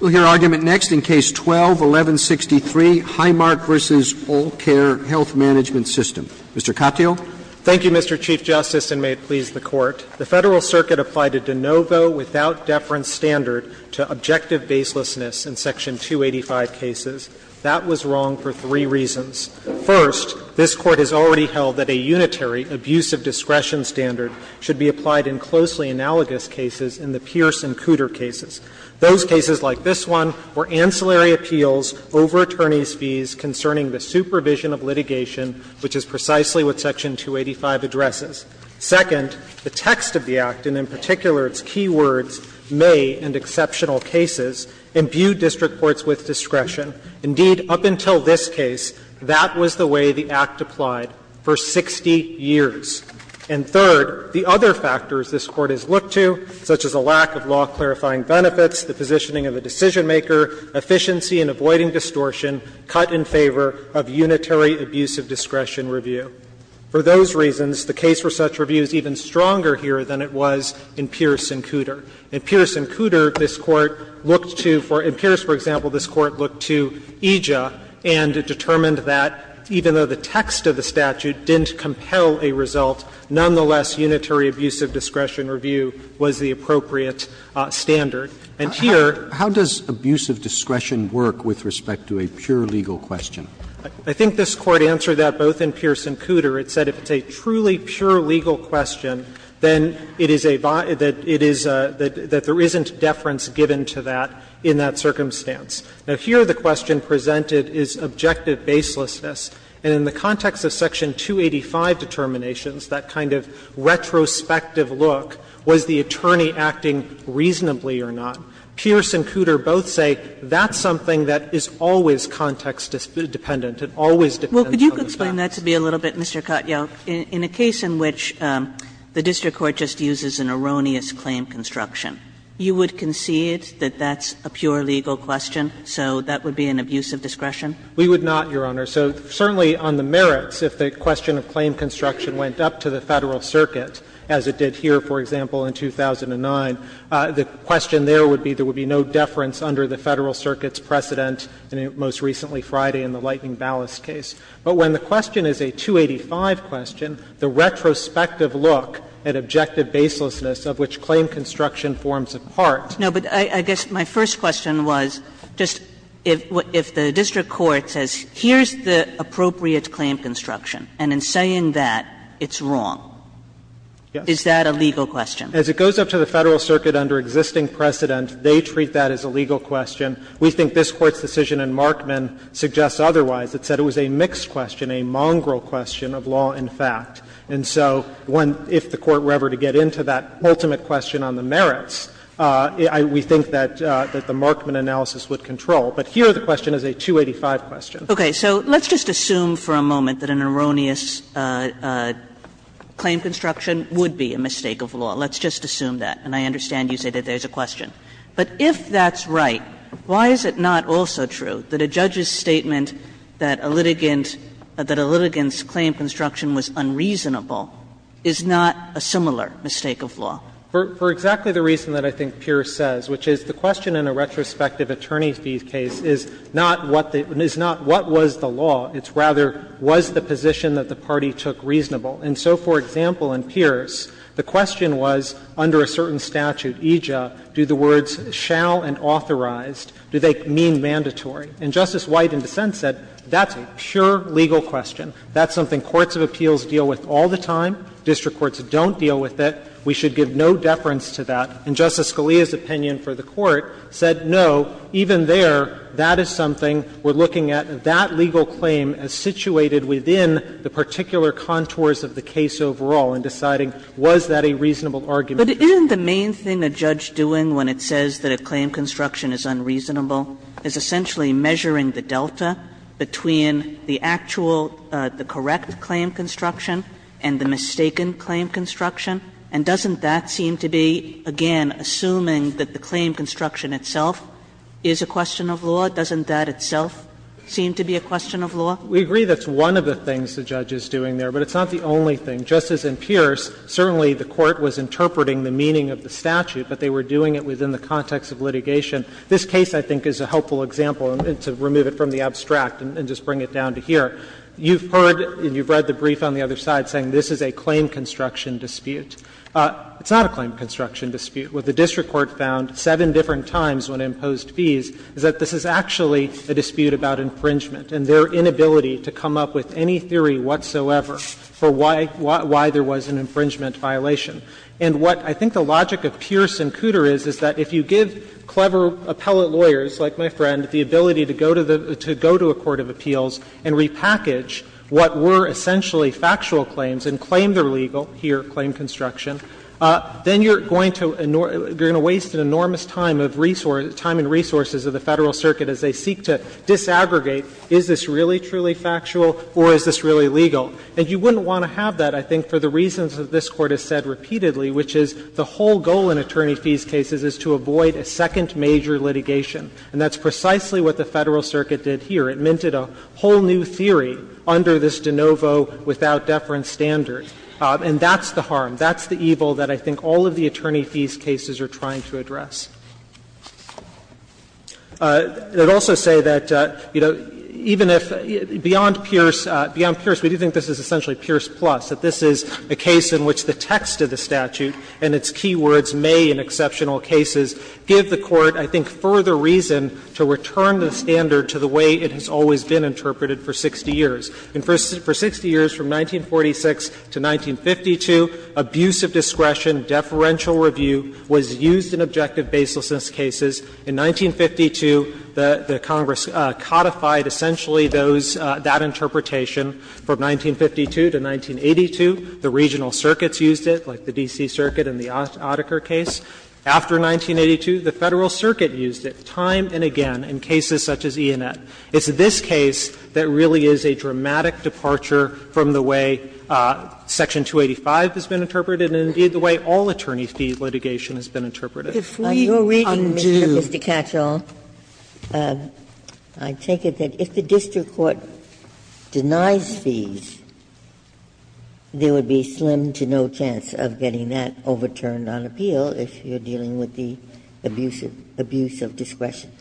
We'll hear argument next in Case 12-1163, Highmark v. Allcare Health Management System. Mr. Katyal. Thank you, Mr. Chief Justice, and may it please the Court. The Federal Circuit applied a de novo, without deference, standard to objective baselessness in Section 285 cases. That was wrong for three reasons. First, this Court has already held that a unitary abuse of discretion standard should be applied in closely analogous cases in the Pierce and Cooter cases. Those cases, like this one, were ancillary appeals over attorneys' fees concerning the supervision of litigation, which is precisely what Section 285 addresses. Second, the text of the Act, and in particular its key words, may, in exceptional cases, imbue district courts with discretion. Indeed, up until this case, that was the way the Act applied for 60 years. And third, the other factors this Court has looked to, such as a lack of law clarifying benefits, the positioning of a decision-maker, efficiency in avoiding distortion, cut in favor of unitary abuse of discretion review. For those reasons, the case for such review is even stronger here than it was in Pierce and Cooter. In Pierce and Cooter, this Court looked to for — in Pierce, for example, this Court looked to EJA and determined that, even though the text of the statute didn't compel a result, nonetheless, unitary abuse of discretion review was the appropriate standard. And here Roberts, how does abuse of discretion work with respect to a pure legal question? I think this Court answered that both in Pierce and Cooter. It said if it's a truly pure legal question, then it is a — that it is a — that there isn't deference given to that in that circumstance. Now, here the question presented is objective baselessness. And in the context of Section 285 determinations, that kind of retrospective look, was the attorney acting reasonably or not, Pierce and Cooter both say that's something that is always context-dependent. It always depends on the facts. Kagan Well, could you explain that to me a little bit, Mr. Katyal? In a case in which the district court just uses an erroneous claim construction, you would concede that that's a pure legal question, so that would be an abuse of discretion? Katyal We would not, Your Honor. So certainly on the merits, if the question of claim construction went up to the Federal Circuit, as it did here, for example, in 2009, the question there would be there would be no deference under the Federal Circuit's precedent, most recently Friday in the Lightning Ballast case. But when the question is a 285 question, the retrospective look at objective baselessness of which claim construction forms a part. Kagan No, but I guess my first question was just if the district court says here's the appropriate claim construction, and in saying that, it's wrong. Is that a legal question? Katyal As it goes up to the Federal Circuit under existing precedent, they treat that as a legal question. We think this Court's decision in Markman suggests otherwise. It said it was a mixed question, a mongrel question of law and fact. And so if the Court were ever to get into that ultimate question on the merits, we think that the Markman analysis would control. But here the question is a 285 question. Kagan Okay. So let's just assume for a moment that an erroneous claim construction would be a mistake of law. Let's just assume that. And I understand you say that there's a question. But if that's right, why is it not also true that a judge's statement that a litigant that a litigant's claim construction was unreasonable is not a similar mistake of law? Katyal For exactly the reason that I think Pierce says, which is the question in a retrospective attorney fee case is not what the – is not what was the law. It's rather was the position that the party took reasonable. And so, for example, in Pierce, the question was under a certain statute, EJA, do the words shall and authorized, do they mean mandatory? And Justice White in dissent said that's a pure legal question. That's something courts of appeals deal with all the time. District courts don't deal with it. We should give no deference to that. And Justice Scalia's opinion for the Court said no, even there, that is something we're looking at. That legal claim is situated within the particular contours of the case overall in deciding was that a reasonable argument. Kagan. Kagan. But isn't the main thing a judge doing when it says that a claim construction is unreasonable is essentially measuring the delta between the actual, the correct claim construction and the mistaken claim construction? And doesn't that seem to be, again, assuming that the claim construction itself is a question of law? Doesn't that itself seem to be a question of law? We agree that's one of the things the judge is doing there, but it's not the only thing. Justice in Pierce, certainly the Court was interpreting the meaning of the statute, but they were doing it within the context of litigation. This case, I think, is a helpful example, to remove it from the abstract and just bring it down to here. You've heard and you've read the brief on the other side saying this is a claim construction dispute. It's not a claim construction dispute. What the district court found seven different times when it imposed fees is that this is actually a dispute about infringement and their inability to come up with any theory whatsoever for why there was an infringement violation. And what I think the logic of Pierce and Cooter is, is that if you give clever appellate lawyers, like my friend, the ability to go to a court of appeals and repackage what were essentially factual claims and claim they're legal, here, claim construction, then you're going to waste an enormous time and resources of the Federal Circuit as they seek to disaggregate is this really, truly factual or is this really legal. And you wouldn't want to have that, I think, for the reasons that this Court has said repeatedly, which is the whole goal in attorney fees cases is to avoid a second major litigation. And that's precisely what the Federal Circuit did here. It minted a whole new theory under this de novo, without deference standard. And that's the harm. That's the evil that I think all of the attorney fees cases are trying to address. I would also say that, you know, even if beyond Pierce, beyond Pierce, we do think this is essentially Pierce plus, that this is a case in which the text of the statute and its key words may, in exceptional cases, give the Court, I think, further reason to return the standard to the way it has always been interpreted for 60 years. And for 60 years, from 1946 to 1952, abuse of discretion, deferential review was used in objective baselessness cases. In 1952, the Congress codified essentially those, that interpretation. From 1952 to 1982, the regional circuits used it, like the D.C. Circuit and the Otterker case. After 1982, the Federal Circuit used it time and again in cases such as Enet. It's this case that really is a dramatic departure from the way Section 285 has been interpreted and, indeed, the way all attorney fee litigation has been interpreted. Ginsburg. Ginsburg. If we undo the case that the district court denies fees, there would be slim to no chance of getting that overturned on appeal if you're dealing with the abuse of discretion.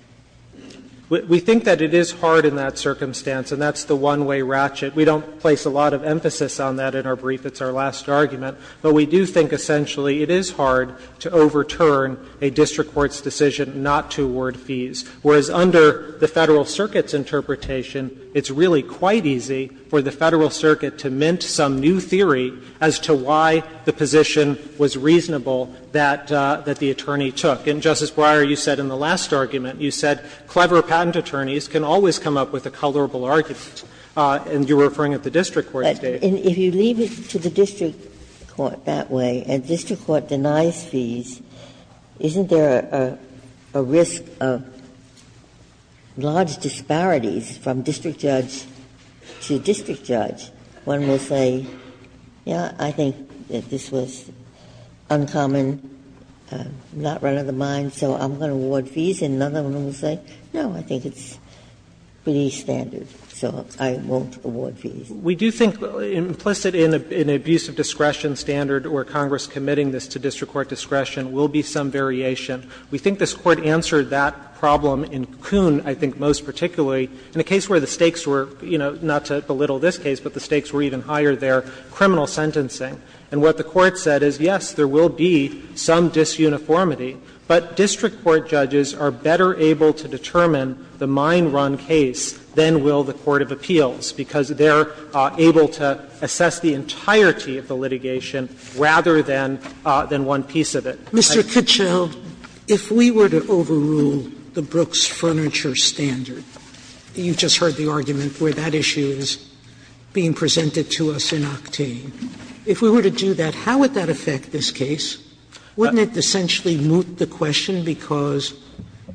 We think that it is hard in that circumstance, and that's the one-way ratchet. We don't place a lot of emphasis on that in our brief. It's our last argument. But we do think essentially it is hard to overturn a district court's decision not to award fees, whereas under the Federal Circuit's interpretation, it's really quite easy for the Federal Circuit to mint some new theory as to why the position was reasonable that the attorney took. And, Justice Breyer, you said in the last argument, you said clever patent attorneys can always come up with a colorable argument. And you're referring at the district court today. Ginsburg. And if you leave it to the district court that way, and district court denies fees, isn't there a risk of large disparities from district judge to district judge? One will say, yes, I think that this was uncommon, not right on the mind, so I'm going to award fees, and another one will say, no, I think it's pretty standard, so I won't award fees. We do think implicit in an abuse of discretion standard, or Congress committing this to district court discretion, will be some variation. We think this Court answered that problem in Kuhn, I think, most particularly in a case where the stakes were, you know, not to belittle this case, but the stakes were even higher there, criminal sentencing. And what the Court said is, yes, there will be some disuniformity, but district court judges are better able to determine the mind-run case than will the court of appeals, because they're able to assess the entirety of the litigation rather than one piece of it. Sotomayor, if we were to overrule the Brooks Furniture Standard, you just heard the argument where that issue is being presented to us in Octane, if we were to do that, how would that affect this case? Wouldn't it essentially moot the question because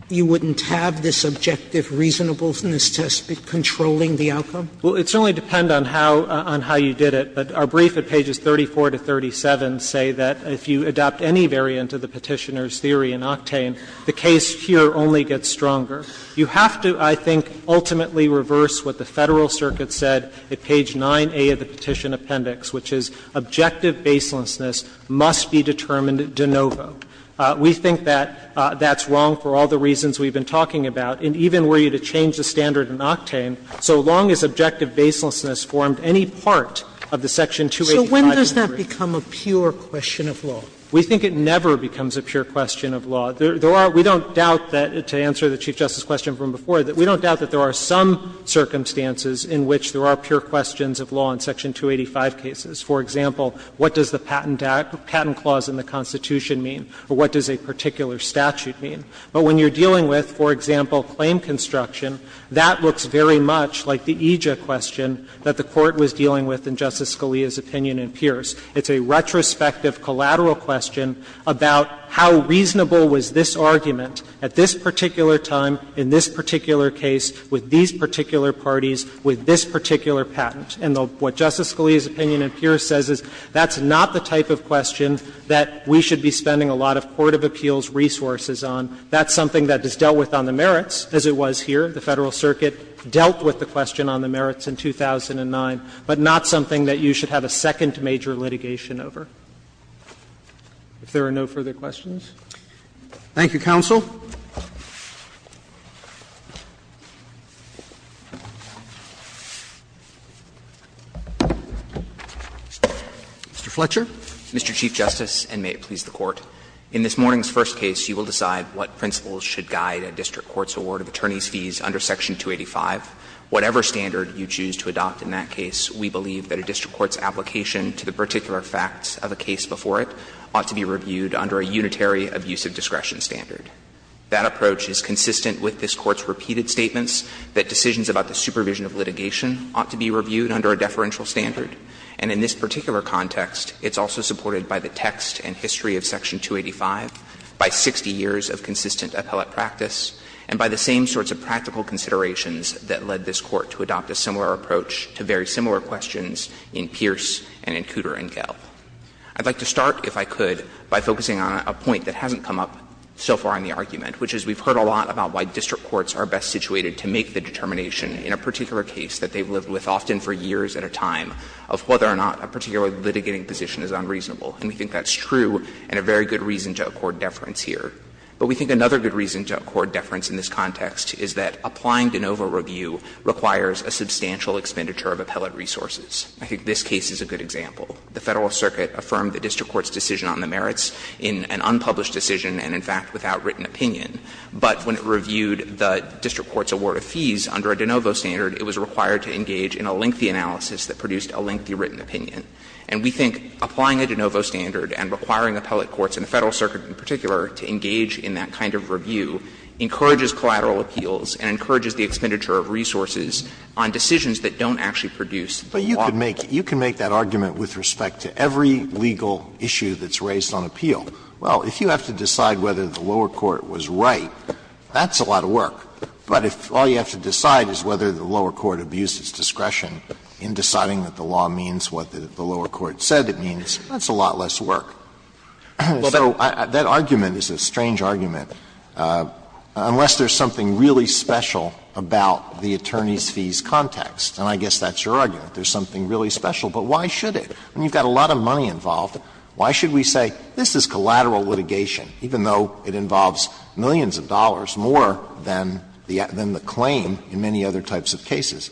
you wouldn't have this objective reasonableness test controlling the outcome? Well, it would certainly depend on how you did it, but our brief at pages 34 to 37 say that if you adopt any variant of the Petitioner's theory in Octane, the case here only gets stronger. You have to, I think, ultimately reverse what the Federal Circuit said at page 9A of the Petition Appendix, which is objective baselessness must be determined de novo. We think that that's wrong for all the reasons we've been talking about, and even were you to change the standard in Octane, so long as objective baselessness formed any part of the section 285. Sotomayor, does that become a pure question of law? We think it never becomes a pure question of law. There are — we don't doubt that, to answer the Chief Justice's question from before, that we don't doubt that there are some circumstances in which there are pure questions of law in section 285 cases. For example, what does the patent clause in the Constitution mean, or what does a particular statute mean? But when you're dealing with, for example, claim construction, that looks very much like the EJIA question that the Court was dealing with in Justice Scalia's opinion in Pierce. It's a retrospective collateral question about how reasonable was this argument at this particular time, in this particular case, with these particular parties, with this particular patent. And what Justice Scalia's opinion in Pierce says is that's not the type of question that we should be spending a lot of court of appeals resources on. That's something that is dealt with on the merits, as it was here. The Federal Circuit dealt with the question on the merits in 2009, but not something that you should have a second major litigation over. If there are no further questions. Roberts. Thank you, counsel. Mr. Fletcher. Mr. Chief Justice, and may it please the Court. In this morning's first case, you will decide what principles should guide a district court's award of attorneys' fees under section 285. Whatever standard you choose to adopt in that case, we believe that a district court's application to the particular facts of a case before it ought to be reviewed under a unitary abusive discretion standard. That approach is consistent with this Court's repeated statements that decisions about the supervision of litigation ought to be reviewed under a deferential standard. And in this particular context, it's also supported by the text and history of section 285, by 60 years of consistent appellate practice, and by the same sorts of practical considerations that led this Court to adopt a similar approach to very similar questions in Pierce and in Cooter and Gell. I'd like to start, if I could, by focusing on a point that hasn't come up so far in the argument, which is we've heard a lot about why district courts are best situated to make the determination in a particular case that they've lived with often for years at a time of whether or not a particular litigating position is unreasonable. And we think that's true and a very good reason to accord deference here. But we think another good reason to accord deference in this context is that applying de novo review requires a substantial expenditure of appellate resources. I think this case is a good example. The Federalist Circuit affirmed the district court's decision on the merits in an unpublished decision and, in fact, without written opinion. But when it reviewed the district court's award of fees under a de novo standard, it was required to engage in a lengthy analysis that produced a lengthy written opinion. And we think applying a de novo standard and requiring appellate courts, and the Federalist Circuit, to engage in that kind of review encourages collateral appeals and encourages the expenditure of resources on decisions that don't actually produce law. Alito, you can make that argument with respect to every legal issue that's raised on appeal. Well, if you have to decide whether the lower court was right, that's a lot of work. But if all you have to decide is whether the lower court abused its discretion in deciding what the law means, what the lower court said it means, that's a lot less work. So that argument is a strange argument, unless there's something really special about the attorneys' fees context. And I guess that's your argument. There's something really special. But why should it? When you've got a lot of money involved, why should we say this is collateral litigation, even though it involves millions of dollars more than the claim in many other types of cases?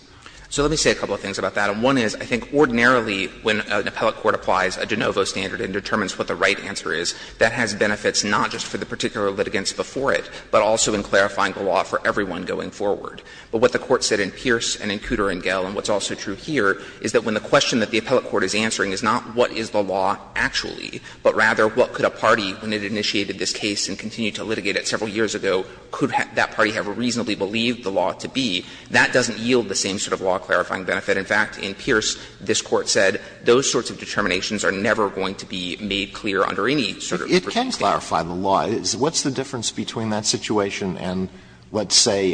So let me say a couple of things about that. And one is, I think ordinarily when an appellate court applies a de novo standard and determines what the right answer is, that has benefits not just for the particular litigants before it, but also in clarifying the law for everyone going forward. But what the Court said in Pierce and in Cooter & Gell, and what's also true here, is that when the question that the appellate court is answering is not what is the law actually, but rather what could a party, when it initiated this case and continued to litigate it several years ago, could that party have reasonably believed the law to be, that doesn't yield the same sort of law-clarifying benefit. In fact, in Pierce, this Court said those sorts of determinations are never going to be made clear under any sort of superstandard. Alitoson It can clarify the law. What's the difference between that situation and, let's say,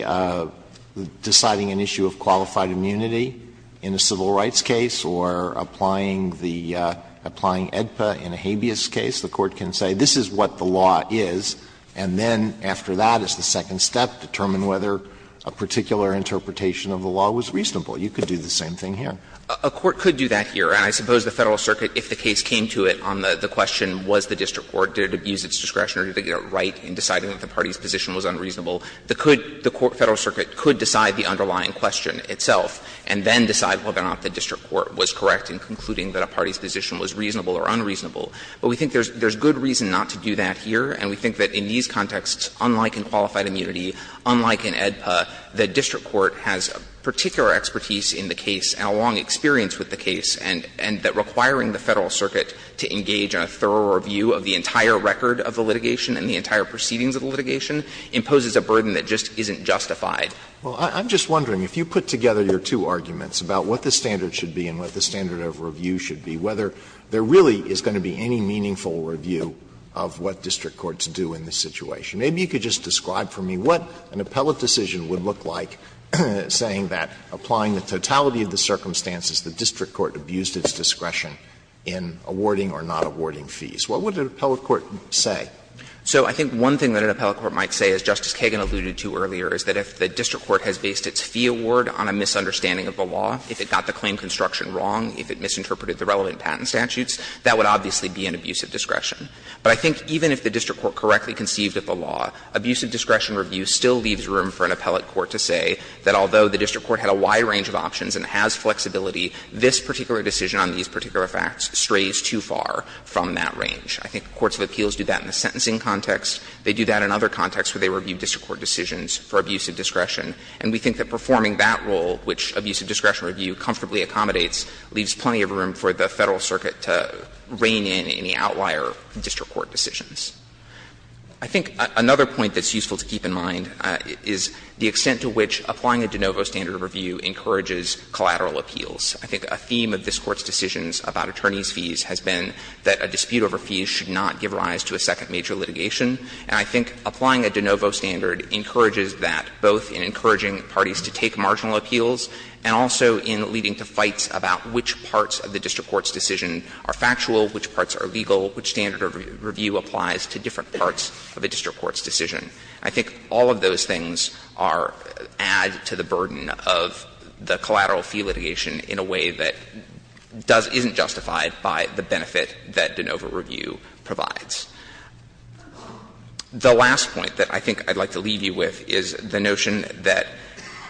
deciding an issue of qualified immunity in a civil rights case or applying the Edpa in a habeas case? The Court can say this is what the law is, and then after that is the second step, determine whether a particular interpretation of the law was reasonable. You could do the same thing here. Clement A court could do that here. And I suppose the Federal Circuit, if the case came to it on the question, was the district court, did it abuse its discretion, or did it get it right in deciding that the party's position was unreasonable, the court, Federal Circuit, could decide the underlying question itself and then decide whether or not the district court was correct in concluding that a party's position was reasonable or unreasonable. But we think there's good reason not to do that here, and we think that in these contexts, unlike in qualified immunity, unlike in Edpa, the district court has particular expertise in the case and a long experience with the case, and that requiring the Federal Circuit to engage in a thorough review of the entire record of the litigation and the entire proceedings of the litigation imposes a burden that just isn't justified. Alitoso, I'm just wondering, if you put together your two arguments about what the standard should be and what the standard of review should be, whether there really is going to be any meaningful review of what district courts do in this situation. Maybe you could just describe for me what an appellate decision would look like saying that, applying the totality of the circumstances, the district court abused its discretion in awarding or not awarding fees. What would an appellate court say? So I think one thing that an appellate court might say, as Justice Kagan alluded to earlier, is that if the district court has based its fee award on a misunderstanding of the law, if it got the claim construction wrong, if it misinterpreted the relevant patent statutes, that would obviously be an abusive discretion. But I think even if the district court correctly conceived of the law, abusive discretion review still leaves room for an appellate court to say that although the district court had a wide range of options and has flexibility, this particular decision on these particular facts strays too far from that range. I think courts of appeals do that in the sentencing context. They do that in other contexts where they review district court decisions for abusive discretion. And we think that performing that role, which abusive discretion review comfortably accommodates, leaves plenty of room for the Federal Circuit to rein in any outlier district court decisions. I think another point that's useful to keep in mind is the extent to which applying a de novo standard of review encourages collateral appeals. I think a theme of this Court's decisions about attorneys' fees has been that a dispute over fees should not give rise to a second major litigation. And I think applying a de novo standard encourages that both in encouraging parties to take marginal appeals and also in leading to fights about which parts of the district court's decision are factual, which parts are legal, which standard of review applies to different parts of a district court's decision. I think all of those things are added to the burden of the collateral fee litigation in a way that doesn't – isn't justified by the benefit that de novo review provides. The last point that I think I'd like to leave you with is the notion that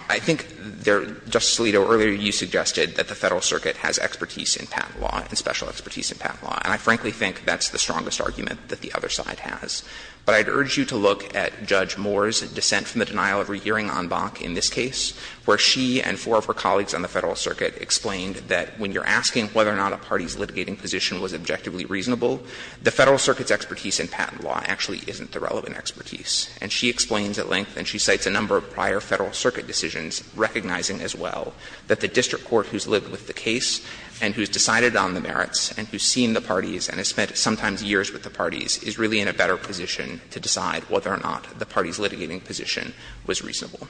I think there – Justice Alito, earlier you suggested that the Federal Circuit has expertise in patent law and special expertise in patent law. And I frankly think that's the strongest argument that the other side has. But I'd urge you to look at Judge Moore's dissent from the denial of rehearing en banc in this case, where she and four of her colleagues on the Federal Circuit explained that when you're asking whether or not a party's litigating position was objectively reasonable, the Federal Circuit's expertise in patent law actually isn't the relevant expertise. And she explains at length, and she cites a number of prior Federal Circuit decisions recognizing as well, that the district court who's lived with the case and who's decided on the merits and who's seen the parties and has spent sometimes years with the parties is really in a better position to decide whether or not the party's litigating position was reasonable.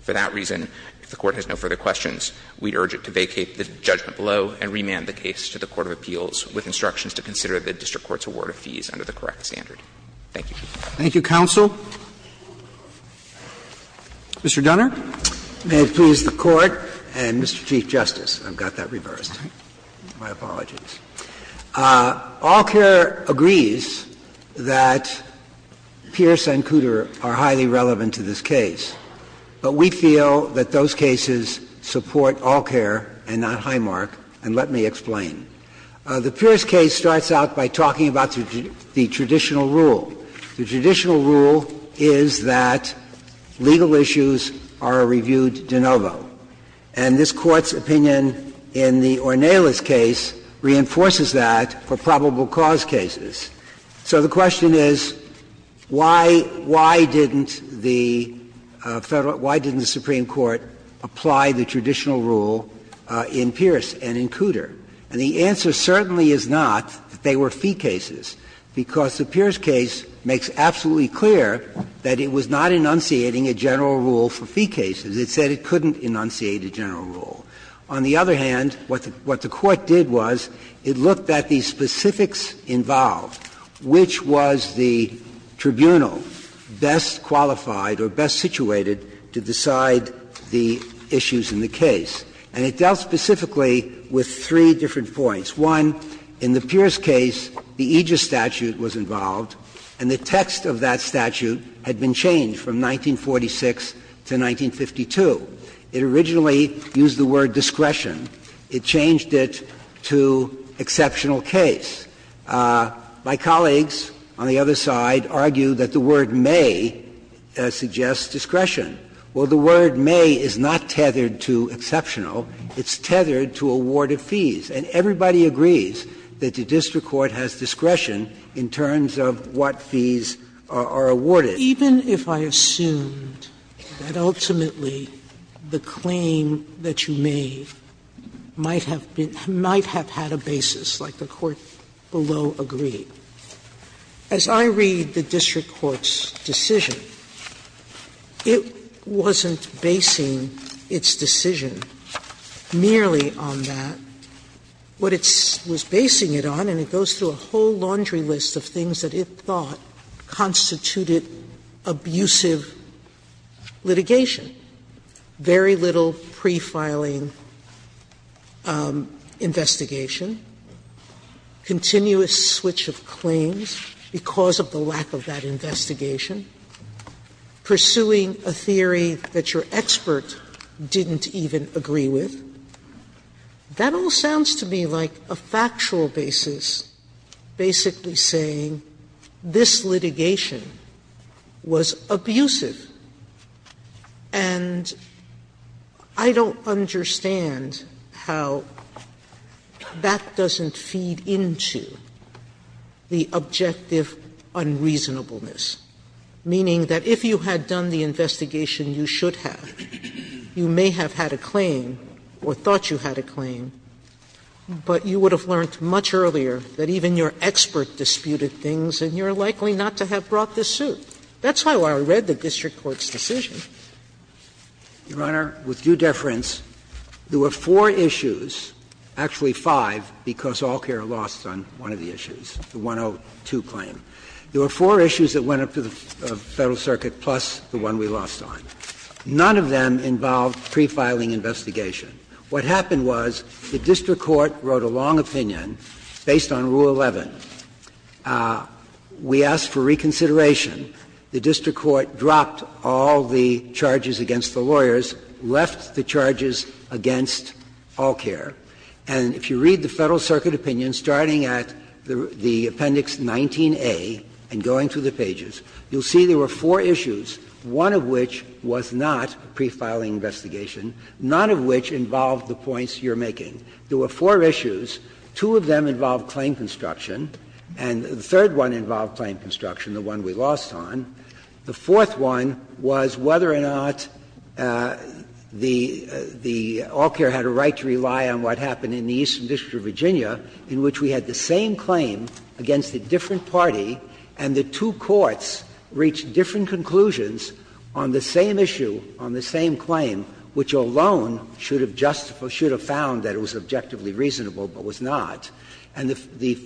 For that reason, if the Court has no further questions, we'd urge it to vacate the judgment below and remand the case to the Court of Appeals with instructions to consider the district court's award of fees under the correct standard. Thank you, Your Honor. Roberts. Thank you, counsel. Mr. Dunner. May it please the Court and Mr. Chief Justice. I've got that reversed. My apologies. Allcare agrees that Pierce and Cooter are highly relevant to this case, but we feel that those cases support Allcare and not Highmark, and let me explain. The Pierce case starts out by talking about the traditional rule. The traditional rule is that legal issues are a reviewed de novo. And this Court's opinion in the Ornelas case reinforces that for probable cause cases. So the question is, why didn't the Federal – why didn't the Supreme Court apply the traditional rule in Pierce and in Cooter? And the answer certainly is not that they were fee cases, because the Pierce case makes absolutely clear that it was not enunciating a general rule for fee cases. It said it couldn't enunciate a general rule. On the other hand, what the Court did was it looked at the specifics involved, which was the tribunal best qualified or best situated to decide the issues in the case, and it dealt specifically with three different points. One, in the Pierce case, the Aegis statute was involved, and the text of that statute had been changed from 1946 to 1952. It originally used the word discretion. It changed it to exceptional case. My colleagues on the other side argue that the word may suggests discretion. Well, the word may is not tethered to exceptional. It's tethered to awarded fees. And everybody agrees that the district court has discretion in terms of what fees are awarded. Sotomayor, even if I assumed that ultimately the claim that you made might have been – might have had a basis, like the Court below agreed, as I read the district court's decision, it wasn't basing its decision merely on that. What it was basing it on, and it goes through a whole laundry list of things that it thought constituted abusive litigation, very little pre-filing investigation, continuous switch of claims because of the lack of that investigation, pursuing a theory that your expert didn't even agree with, that all sounds to me like a factual basis basically saying this litigation was abusive. And I don't understand how that doesn't feed into the objective unreasonableness, meaning that if you had done the investigation you should have, you may have had a claim or thought you had a claim, but you would have learned much earlier that even your expert disputed things and you're likely not to have brought the suit. That's how I read the district court's decision. Dreeben, Your Honor, with due deference, there were four issues, actually five, because Allcare lost on one of the issues, the 102 claim. There were four issues that went up to the Federal Circuit plus the one we lost on. None of them involved pre-filing investigation. What happened was the district court wrote a long opinion based on Rule 11. We asked for reconsideration. The district court dropped all the charges against the lawyers, left the charges against Allcare. And if you read the Federal Circuit opinion, starting at the Appendix 19A and going to the pages, you'll see there were four issues, one of which was not pre-filing investigation, none of which involved the points you're making. There were four issues. Two of them involved claim construction, and the third one involved claim construction, the one we lost on. The fourth one was whether or not the Allcare had a right to rely on what happened in the Eastern District of Virginia, in which we had the same claim against a different party, and the two courts reached different conclusions on the same issue, on the same claim, which alone should have found that it was objectively reasonable, but was not. And the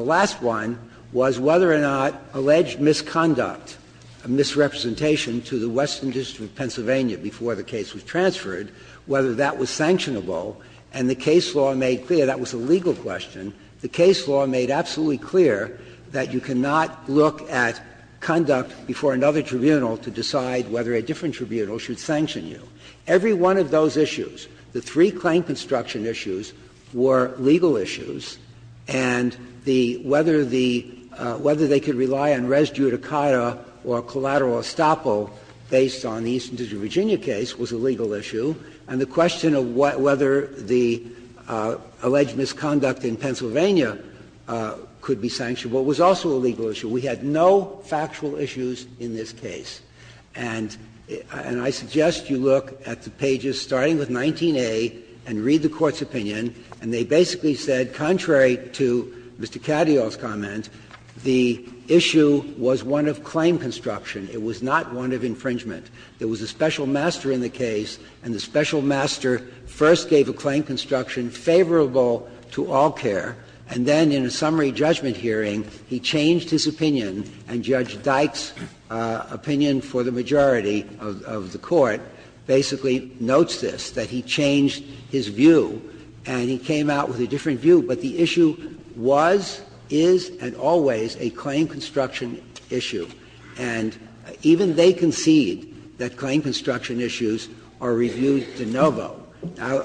last one was whether or not alleged misconduct, misrepresentation to the Western District of Pennsylvania before the case was transferred, whether that was sanctionable. And the case law made clear that was a legal question. The case law made absolutely clear that you cannot look at conduct before another tribunal to decide whether a different tribunal should sanction you. Every one of those issues, the three claim construction issues, were legal issues, and the whether the — whether they could rely on res judicata or collateral estoppel based on the Eastern District of Virginia case was a legal issue, and the whether the alleged misconduct in Pennsylvania could be sanctionable was also a legal issue. We had no factual issues in this case. And I suggest you look at the pages starting with 19A and read the Court's opinion, and they basically said, contrary to Mr. Cattial's comment, the issue was one of claim construction. It was not one of infringement. There was a special master in the case, and the special master first gave a claim construction favorable to all care, and then in a summary judgment hearing, he changed his opinion, and Judge Dykes' opinion for the majority of the Court basically notes this, that he changed his view, and he came out with a different view. But the issue was, is, and always a claim construction issue, and even they concede that claim construction issues are reviewed de novo. Now,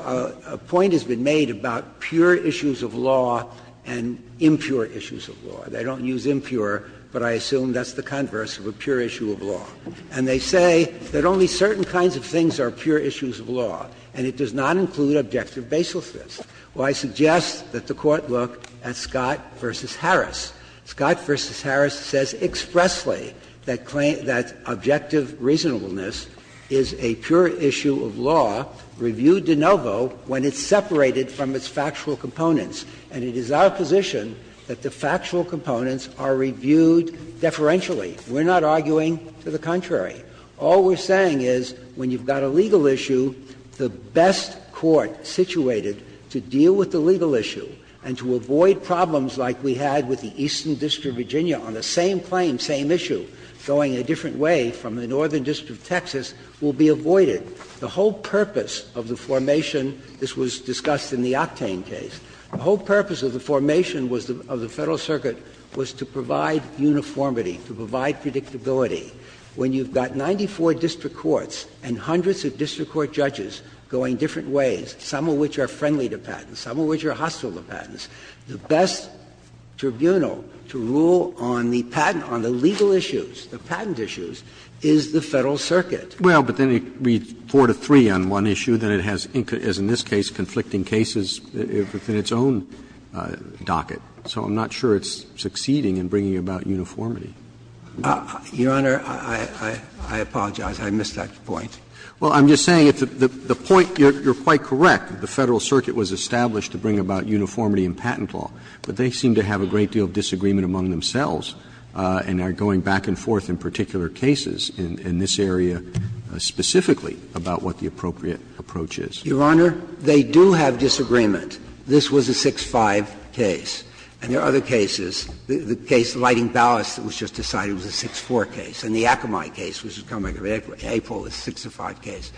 a point has been made about pure issues of law and impure issues of law. They don't use impure, but I assume that's the converse of a pure issue of law. And they say that only certain kinds of things are pure issues of law, and it does not include objective baselessness. Well, I suggest that the Court look at Scott v. Harris. Scott v. Harris says expressly that claim that objective reasonableness is a pure issue of law reviewed de novo when it's separated from its factual components. And it is our position that the factual components are reviewed deferentially. We're not arguing to the contrary. All we're saying is when you've got a legal issue, the best court situated to deal with the legal issue and to avoid problems like we had with the Eastern District of Virginia on the same claim, same issue, going a different way from the Northern District of Texas, will be avoided. The whole purpose of the formation, this was discussed in the Octane case, the whole purpose of the formation of the Federal Circuit was to provide uniformity, to provide predictability. When you've got 94 district courts and hundreds of district court judges going different ways, some of which are friendly to patents, some of which are hostile to patents, the best tribunal to rule on the patent, on the legal issues, the patent issues, is the Federal Circuit. Roberts. Well, but then it reads 4 to 3 on one issue, then it has, as in this case, conflicting cases within its own docket. So I'm not sure it's succeeding in bringing about uniformity. Your Honor, I apologize. I missed that point. Well, I'm just saying the point, you're quite correct, the Federal Circuit was established to bring about uniformity in patent law, but they seem to have a great deal of disagreement among themselves and are going back and forth in particular cases in this area specifically about what the appropriate approach is. Your Honor, they do have disagreement. This was a 6-5 case. And there are other cases. The case of Lighting Ballast was just decided was a 6-4 case. And the Akamai case, which was coming up in April, was a 6-5 case.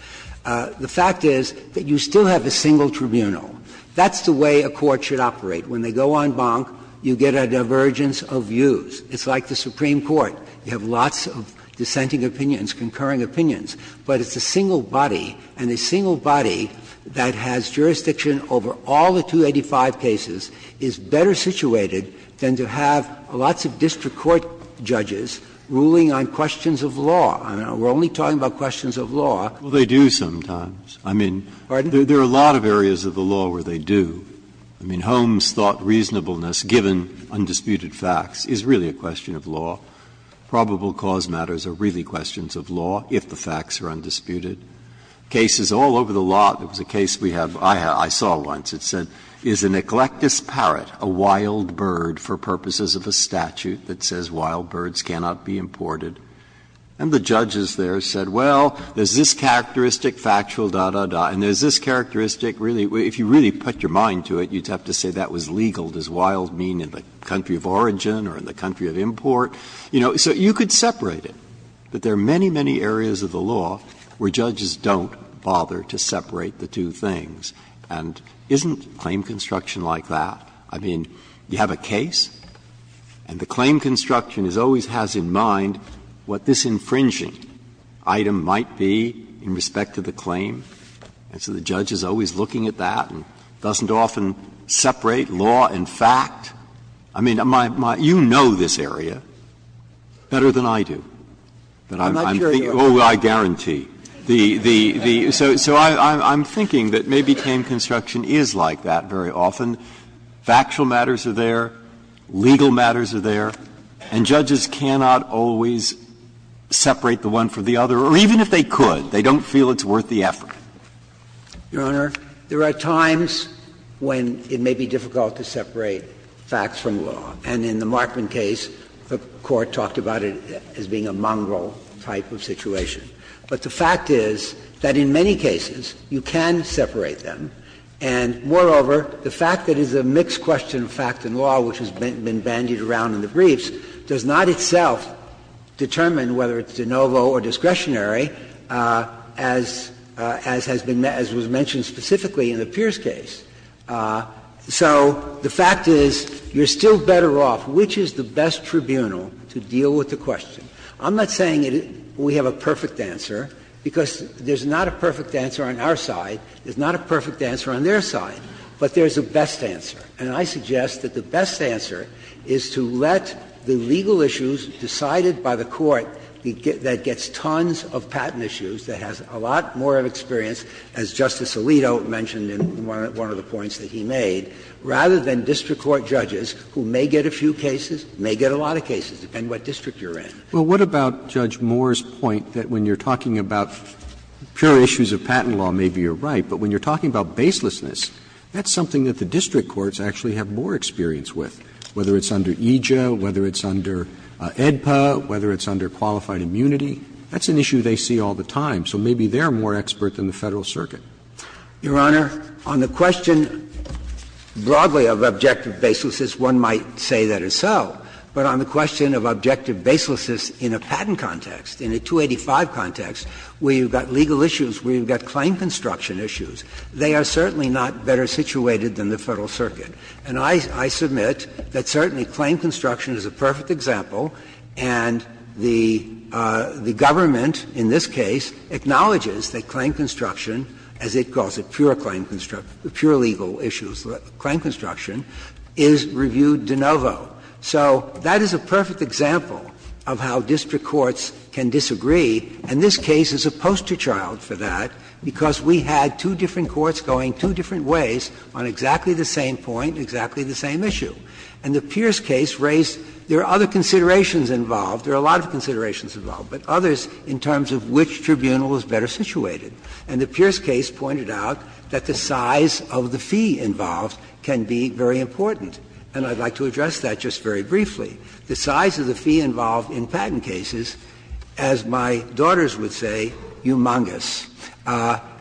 The fact is that you still have a single tribunal. That's the way a court should operate. When they go en banc, you get a divergence of views. It's like the Supreme Court. You have lots of dissenting opinions, concurring opinions, but it's a single body. And a single body that has jurisdiction over all the 285 cases is better situated than to have lots of district court judges ruling on questions of law. We're only talking about questions of law. Well, they do sometimes. I mean, there are a lot of areas of the law where they do. I mean, Holmes thought reasonableness, given undisputed facts, is really a question of law. Probable cause matters are really questions of law if the facts are undisputed. Cases all over the lot, there was a case we have, I saw once, it said, is an eclectus parrot a wild bird for purposes of a statute that says wild birds cannot be imported? And the judges there said, well, there's this characteristic, factual, da, da, da, and there's this characteristic, really, if you really put your mind to it, you'd have to say that was legal, does wild mean in the country of origin or in the country of import? You know, so you could separate it, but there are many, many areas of the law where judges don't bother to separate the two things, and isn't claim construction like that? I mean, you have a case, and the claim construction always has in mind what this And so the judge is always looking at that and doesn't often separate law and fact. I mean, you know this area better than I do. But I'm thinking, oh, I guarantee. So I'm thinking that maybe claim construction is like that very often. Factual matters are there, legal matters are there, and judges cannot always separate the one from the other, or even if they could, they don't feel it's worth the effort. Your Honor, there are times when it may be difficult to separate facts from law. And in the Markman case, the Court talked about it as being a mongrel type of situation. But the fact is that in many cases, you can separate them, and moreover, the fact that it's a mixed question of fact and law, which has been bandied around in the briefs, does not itself determine whether it's de novo or discretionary, as has been met as was mentioned specifically in the Pierce case. So the fact is, you're still better off, which is the best tribunal to deal with the question? I'm not saying we have a perfect answer, because there's not a perfect answer on our side. There's not a perfect answer on their side. But there's a best answer. And I suggest that the best answer is to let the legal issues decided by the Court that gets tons of patent issues, that has a lot more of experience, as Justice Alito mentioned in one of the points that he made, rather than district court judges who may get a few cases, may get a lot of cases, depending on what district you're in. Roberts. Roberts. Well, what about Judge Moore's point that when you're talking about pure issues of patent law, maybe you're right, but when you're talking about baselessness, that's something that the district courts actually have more experience with, whether it's under EJA, whether it's under AEDPA, whether it's under qualified immunity. That's an issue they see all the time. So maybe they're more expert than the Federal Circuit. Your Honor, on the question broadly of objective baselessness, one might say that is so. But on the question of objective baselessness in a patent context, in a 285 context, where you've got legal issues, where you've got claim construction issues, they are certainly not better situated than the Federal Circuit. And I submit that certainly claim construction is a perfect example, and the government in this case acknowledges that claim construction, as it calls it, pure claim construction — pure legal issues, claim construction, is reviewed de novo. So that is a perfect example of how district courts can disagree. And this case is a poster child for that, because we had two different courts going two different ways on exactly the same point, exactly the same issue. And the Pierce case raised — there are other considerations involved. There are a lot of considerations involved, but others in terms of which tribunal is better situated. And the Pierce case pointed out that the size of the fee involved can be very important. And I'd like to address that just very briefly. The size of the fee involved in patent cases, as my daughters would say, humongous.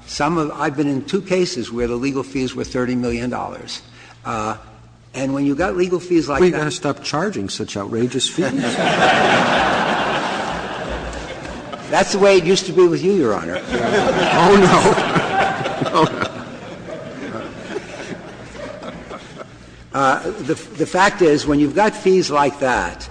Some of — I've been in two cases where the legal fees were $30 million. And when you've got legal fees like that — Scalia, you've got to stop charging such outrageous fees. That's the way it used to be with you, Your Honor. Oh, no. The fact is, when you've got fees like that,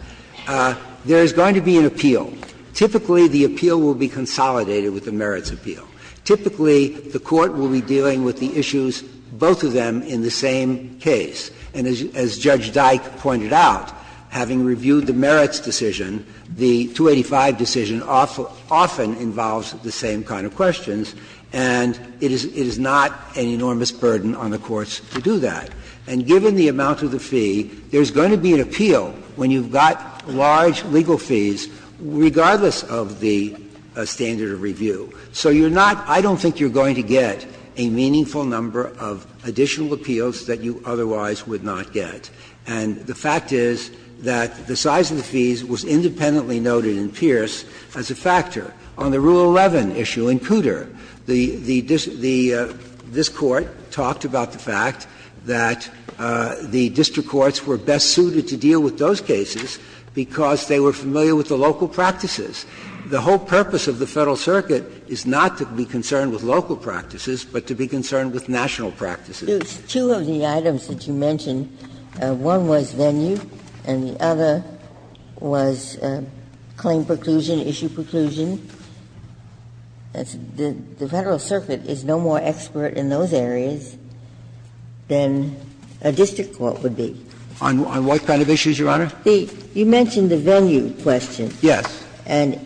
there is going to be an appeal. Typically, the appeal will be consolidated with the merits appeal. Typically, the court will be dealing with the issues, both of them in the same case. And as Judge Dyke pointed out, having reviewed the merits decision, the 285 decision often involves the same kind of questions. And it is not an enormous burden on the courts to do that. And given the amount of the fee, there's going to be an appeal when you've got large legal fees, regardless of the standard of review. So you're not — I don't think you're going to get a meaningful number of additional appeals that you otherwise would not get. And the fact is that the size of the fees was independently noted in Pierce as a factor. On the Rule 11 issue in Cooter, the — this Court talked about the fact that the district courts were best suited to deal with those cases because they were familiar with the local practices. The whole purpose of the Federal Circuit is not to be concerned with local practices, but to be concerned with national practices. Ginsburg's two of the items that you mentioned, one was venue and the other was claim preclusion, issue preclusion. The Federal Circuit is no more expert in those areas than a district court would be. On what kind of issues, Your Honor? The — you mentioned the venue question. Yes. And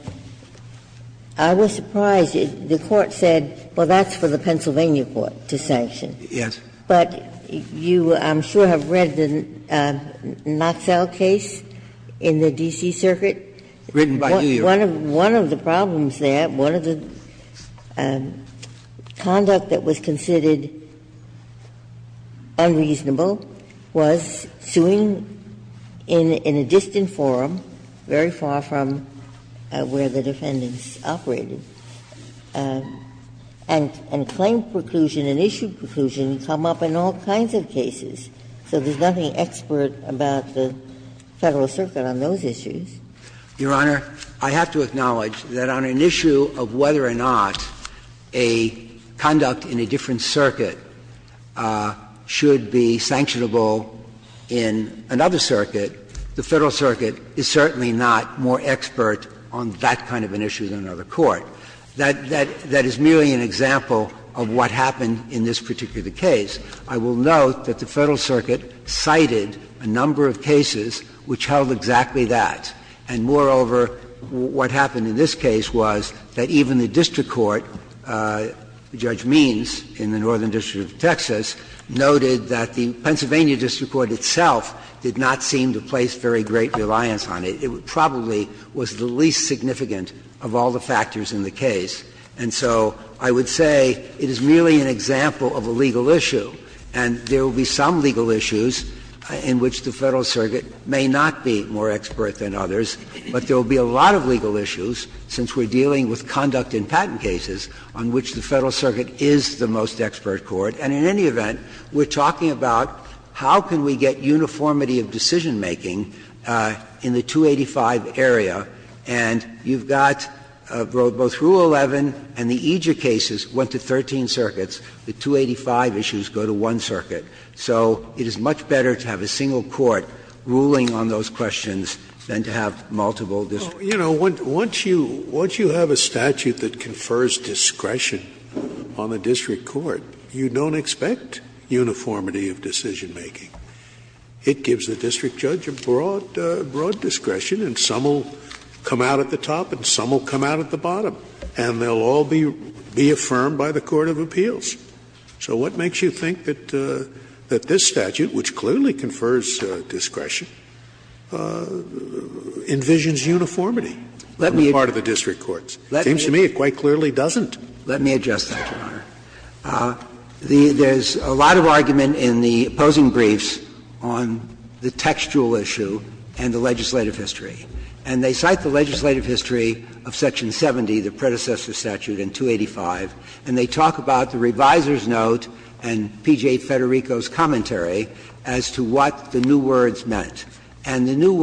I was surprised. The Court said, well, that's for the Pennsylvania court to sanction. Yes. But you, I'm sure, have read the Knoxell case in the D.C. Circuit. Written by you, Your Honor. One of the problems there, one of the conduct that was considered unreasonable was suing in a distant forum, very far from where the defendants operated. And claim preclusion and issue preclusion come up in all kinds of cases. So there's nothing expert about the Federal Circuit on those issues. Your Honor, I have to acknowledge that on an issue of whether or not a conduct in a different circuit should be sanctionable in another circuit, the Federal Circuit is certainly not more expert on that kind of an issue than another court. That is merely an example of what happened in this particular case. I will note that the Federal Circuit cited a number of cases which held exactly that. And moreover, what happened in this case was that even the district court, Judge Means in the Northern District of Texas, noted that the Pennsylvania district court itself did not seem to place very great reliance on it. It probably was the least significant of all the factors in the case. And so I would say it is merely an example of a legal issue. And there will be some legal issues in which the Federal Circuit may not be more expert than others, but there will be a lot of legal issues, since we're dealing with conduct in patent cases, on which the Federal Circuit is the most expert court. And in any event, we're talking about how can we get uniformity of decision-making in the 285 area, and you've got both Rule 11 and the EJIC cases went to 13 circuits. The 285 issues go to one circuit. So it is much better to have a single court ruling on those questions than to have multiple district courts. Scalia. Once you have a statute that confers discretion on the district court, you don't expect uniformity of decision-making. It gives the district judge a broad discretion, and some will come out at the top and some will come out at the bottom, and they'll all be affirmed by the court of appeals. So what makes you think that this statute, which clearly confers discretion, envisions uniformity on the part of the district courts? It seems to me it quite clearly doesn't. Let me adjust that, Your Honor. There's a lot of argument in the opposing briefs on the textual issue and the legislative history, and they cite the legislative history of Section 70, the predecessor statute in 285, and they talk about the reviser's note and P.J. Federico's commentary as to what the new words meant. And the new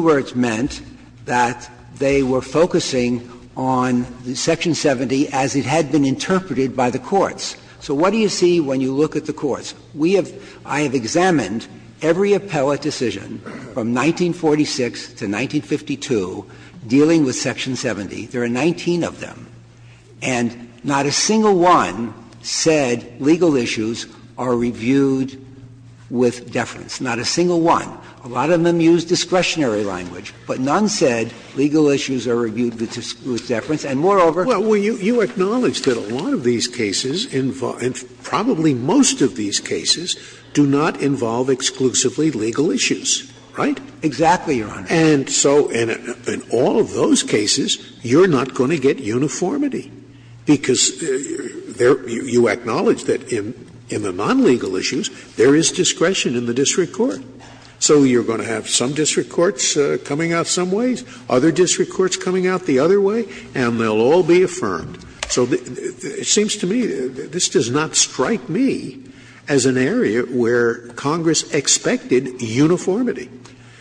words meant that they were focusing on Section 70 as it had been interpreted by the courts. So what do you see when you look at the courts? We have – I have examined every appellate decision from 1946 to 1952 dealing with Section 70. There are 19 of them, and not a single one said legal issues are reviewed with deference. Not a single one. A lot of them used discretionary language, but none said legal issues are reviewed with deference. And moreover – Well, you acknowledge that a lot of these cases, and probably most of these cases, do not involve exclusively legal issues, right? Exactly, Your Honor. And so in all of those cases, you're not going to get uniformity, because you acknowledge that in the non-legal issues, there is discretion in the district court. So you're going to have some district courts coming out some ways, other district courts coming out the other way, and they'll all be affirmed. So it seems to me this does not strike me as an area where Congress expected uniformity.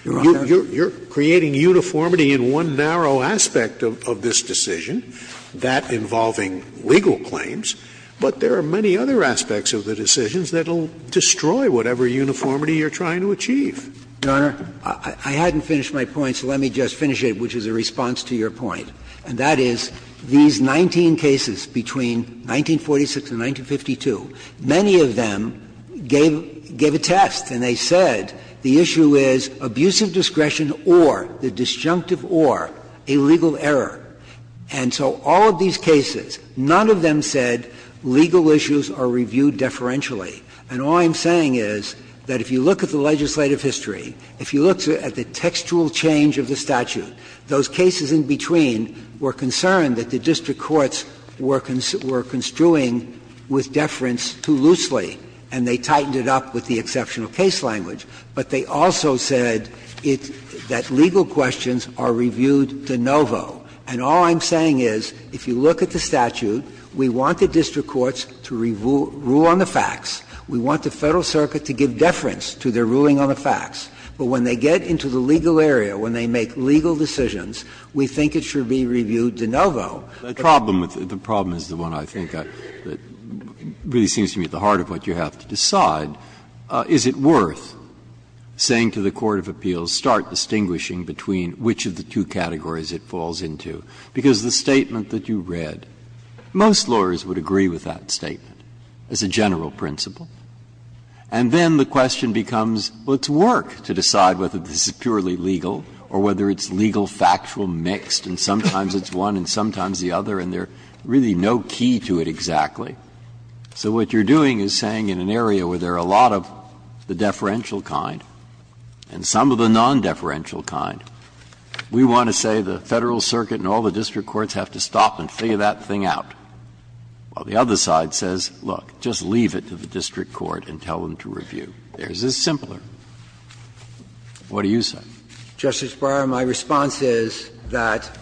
You're creating uniformity in one narrow aspect of this decision, that involving legal claims, but there are many other aspects of the decisions that will destroy whatever uniformity you're trying to achieve. Your Honor, I hadn't finished my point, so let me just finish it, which is a response to your point, and that is, these 19 cases between 1946 and 1952, many of them gave a test, and they said the issue is abusive discretion or, the disjunctive or, a legal error. And so all of these cases, none of them said legal issues are reviewed deferentially. And all I'm saying is that if you look at the legislative history, if you look at the textual change of the statute, those cases in between were concerned that the district courts were construing with deference too loosely, and they tightened it up with the exceptional case language. But they also said that legal questions are reviewed de novo. And all I'm saying is, if you look at the statute, we want the district courts to rule on the facts. We want the Federal Circuit to give deference to their ruling on the facts. But when they get into the legal area, when they make legal decisions, we think it should be reviewed de novo. Breyer. The problem is the one, I think, that really seems to me at the heart of what you have to decide. Is it worth saying to the court of appeals, start distinguishing between which of the two categories it falls into? Because the statement that you read, most lawyers would agree with that statement as a general principle. And then the question becomes, well, it's work to decide whether this is purely legal or whether it's legal-factual mixed, and sometimes it's one and sometimes the other, and there's really no key to it exactly. So what you're doing is saying in an area where there are a lot of the deferential kind and some of the non-deferential kind, we want to say the Federal Circuit and all the district courts have to stop and figure that thing out, while the other side says, look, just leave it to the district court and tell them to review. Is this simpler? What do you say? Dabney. Justice Breyer, my response is that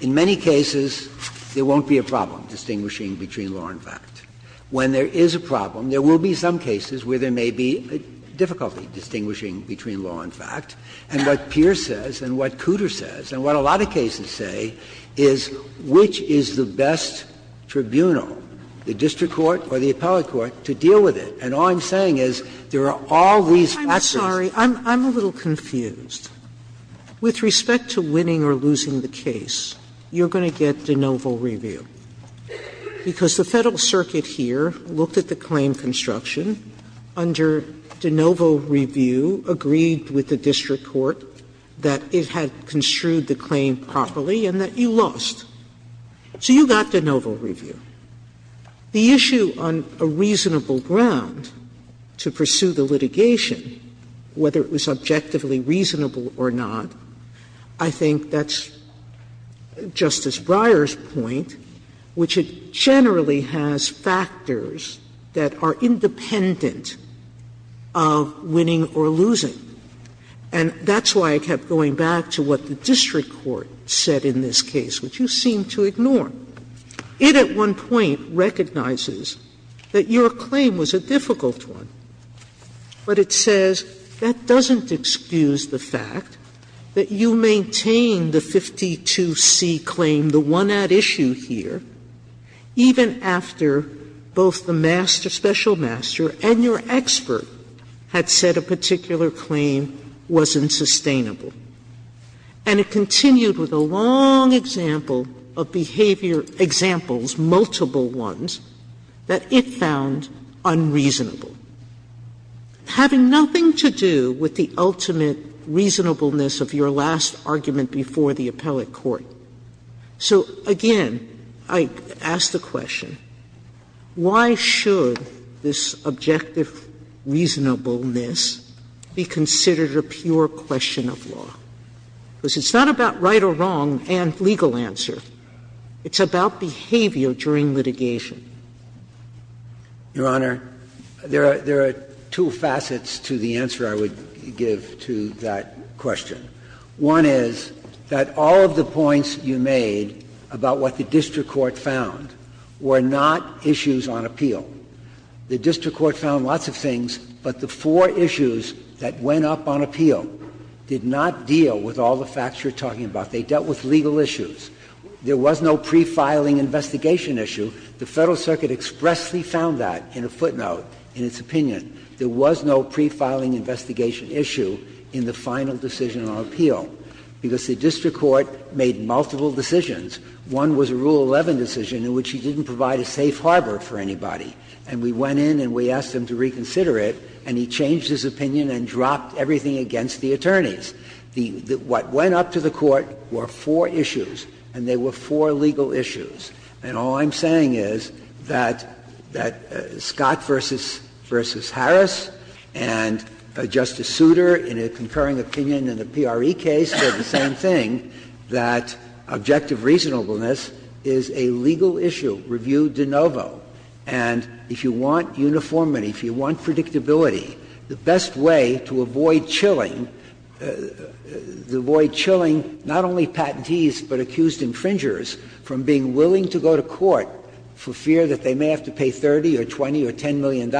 in many cases, there won't be a problem distinguishing between law and fact. When there is a problem, there will be some cases where there may be difficulty distinguishing between law and fact. And what Pierce says and what Cooter says and what a lot of cases say is which is the best tribunal, the district court or the appellate court, to deal with it? And all I'm saying is there are all these factors. Sotomayor, I'm sorry. I'm a little confused. With respect to winning or losing the case, you're going to get de novo review, because the Federal Circuit here looked at the claim construction. Under de novo review, agreed with the district court that it had construed the claim properly and that you lost. So you got de novo review. The issue on a reasonable ground to pursue the litigation, whether it was objectively reasonable or not, I think that's Justice Breyer's point, which it generally has factors that are independent of winning or losing. And that's why I kept going back to what the district court said in this case, which you seem to ignore. It at one point recognizes that your claim was a difficult one, but it says that doesn't excuse the fact that you maintain the 52C claim, the one at issue here, even after both the master, special master, and your expert had said a particular claim was unsustainable. And it continued with a long example of behavior examples, multiple ones, that it found unreasonable, having nothing to do with the ultimate reasonableness of your last argument before the appellate court. So, again, I ask the question, why should this objective reasonableness be considered a pure question of law? Because it's not about right or wrong and legal answer. It's about behavior during litigation. Kneedler, Your Honor, there are two facets to the answer I would give to that question. One is that all of the points you made about what the district court found were not issues on appeal. The district court found lots of things, but the four issues that went up on appeal did not deal with all the facts you are talking about. They dealt with legal issues. There was no pre-filing investigation issue. The Federal Circuit expressly found that in a footnote in its opinion. There was no pre-filing investigation issue in the final decision on appeal. Because the district court made multiple decisions. One was a Rule 11 decision in which he didn't provide a safe harbor for anybody. And we went in and we asked him to reconsider it, and he changed his opinion and dropped everything against the attorneys. What went up to the court were four issues, and they were four legal issues. And all I'm saying is that Scott v. Harris and Justice Souter, in a concurring opinion in the PRE case, said the same thing, that objective reasonableness is a legal issue reviewed de novo. And if you want uniformity, if you want predictability, the best way to avoid chilling the void, chilling not only patentees, but accused infringers from being willing to go to court for fear that they may have to pay $30 or $20 or $10 million,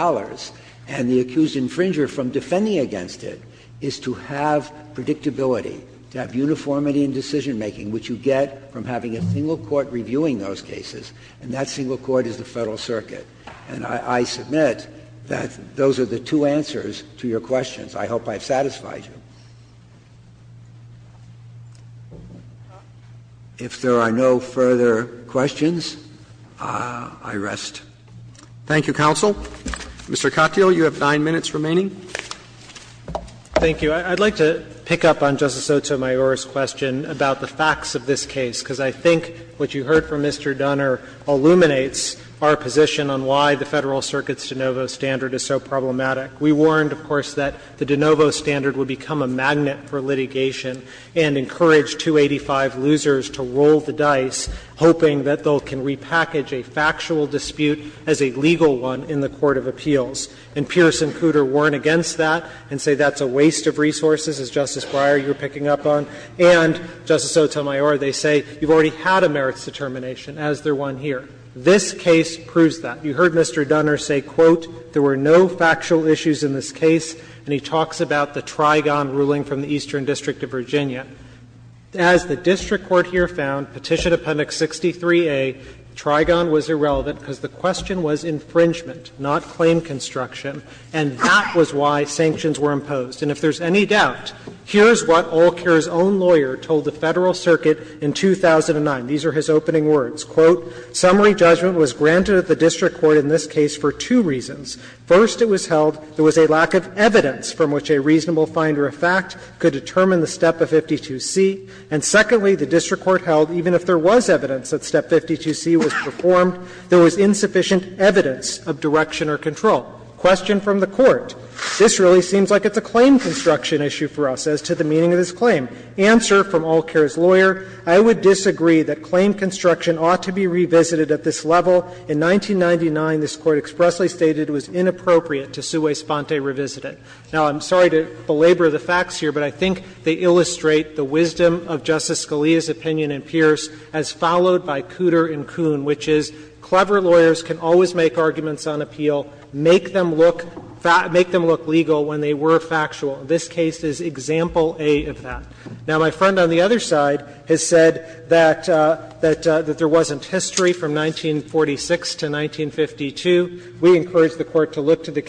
and the accused infringer from defending against it, is to have predictability, to have uniformity in decision-making, which you get from having a single court reviewing those cases, and that single court is the Federal Circuit. And I submit that those are the two answers to your questions. I hope I've satisfied you. If there are no further questions, I rest. Roberts. Thank you, counsel. Mr. Katyal, you have 9 minutes remaining. Thank you. I'd like to pick up on Justice Sotomayor's question about the facts of this case, because I think what you heard from Mr. Dunner illuminates our position on why the Federal Circuit's de novo standard is so problematic. We warned, of course, that the de novo standard would become a magnet for litigation and encourage 285 losers to roll the dice, hoping that they can repackage a factual dispute as a legal one in the court of appeals. And Pierce and Cooter warn against that and say that's a waste of resources, as Justice Breyer, you were picking up on. And, Justice Sotomayor, they say you've already had a merits determination, as the one here. This case proves that. You heard Mr. Dunner say, quote, there were no factual issues in this case, and he talks about the Trigon ruling from the Eastern District of Virginia. As the district court here found, Petition Appendix 63A, Trigon was irrelevant because the question was infringement, not claim construction, and that was why sanctions were imposed. And if there's any doubt, here's what Olcair's own lawyer told the Federal Circuit in 2009. These are his opening words, quote, ''Summary judgment was granted at the district court in this case for two reasons. First, it was held there was a lack of evidence from which a reasonable finder of fact could determine the step of 52C. And secondly, the district court held even if there was evidence that step 52C was performed, there was insufficient evidence of direction or control. '' Question from the Court. This really seems like it's a claim construction issue for us as to the meaning of this claim. Answer from Olcair's lawyer, ''I would disagree that claim construction ought to be revisited at this level. In 1999, this Court expressly stated it was inappropriate to sui sponte revisited.'' Now, I'm sorry to belabor the facts here, but I think they illustrate the wisdom of Justice Scalia's opinion in Pierce as followed by Cooter and Kuhn, which is clever lawyers can always make arguments on appeal, make them look legal when they were factual. This case is example A of that. Now, my friend on the other side has said that there wasn't history from 1946 to 1952. We encourage the Court to look to the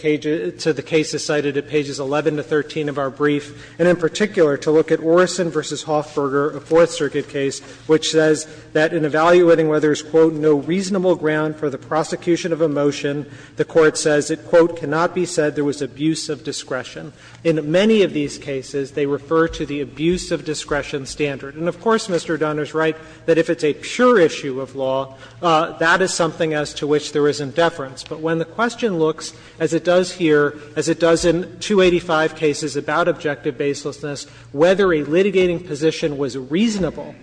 cases cited at pages 11 to 13 of our brief, and in particular to look at Orison v. Hoffberger, a Fourth Circuit case, which says that in evaluating whether there's, quote, ''no reasonable ground for the prosecution of a motion,'' the Court says it, quote, ''cannot be said there was abuse of discretion.'' In many of these cases, they refer to the abuse of discretion standard. And, of course, Mr. Dunner is right that if it's a pure issue of law, that is something as to which there is indifference. But when the question looks, as it does here, as it does in 285 cases about objective baselessness, whether a litigating position was reasonable,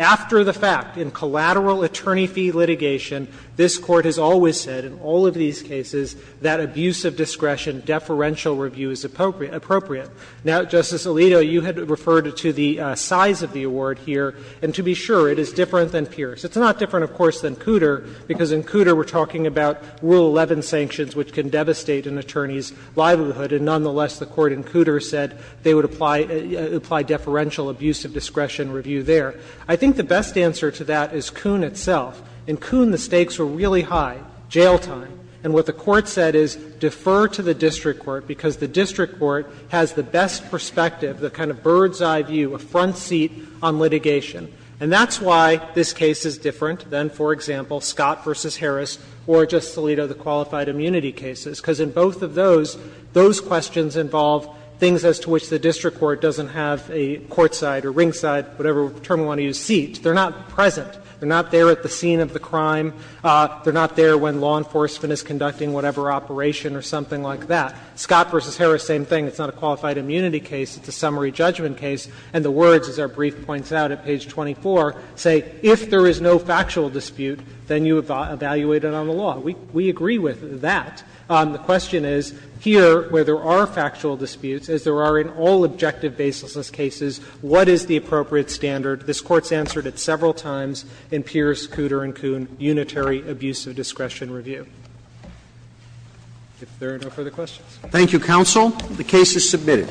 after the fact, in collateral attorney fee litigation, this Court has always said, in all of these cases, that abuse of discretion deferential review is appropriate. Now, Justice Alito, you had referred to the size of the award here, and to be sure, it is different than Pierce. It's not different, of course, than Cooter, because in Cooter we're talking about Rule 11 sanctions, which can devastate an attorney's livelihood. And nonetheless, the Court in Cooter said they would apply deferential abuse of discretion review there. I think the best answer to that is Kuhn itself. In Kuhn, the stakes were really high, jail time. And what the Court said is, defer to the district court, because the district court has the best perspective, the kind of bird's-eye view, a front seat on litigation. And that's why this case is different than, for example, Scott v. Harris or, Justice Alito, the qualified immunity cases. Because in both of those, those questions involve things as to which the district court doesn't have a courtside or ringside, whatever term you want to use, seat. They're not present. They're not there at the scene of the crime. They're not there when law enforcement is conducting whatever operation or something like that. Scott v. Harris, same thing. It's not a qualified immunity case. It's a summary judgment case. And the words, as our brief points out at page 24, say, if there is no factual dispute, then you evaluate it on the law. We agree with that. The question is, here, where there are factual disputes, as there are in all objective baselessness cases, what is the appropriate standard? This Court's answered it several times in Pierce, Cooter and Coon, unitary abuse of discretion review. If there are no further questions. Roberts. Thank you, counsel. The case is submitted.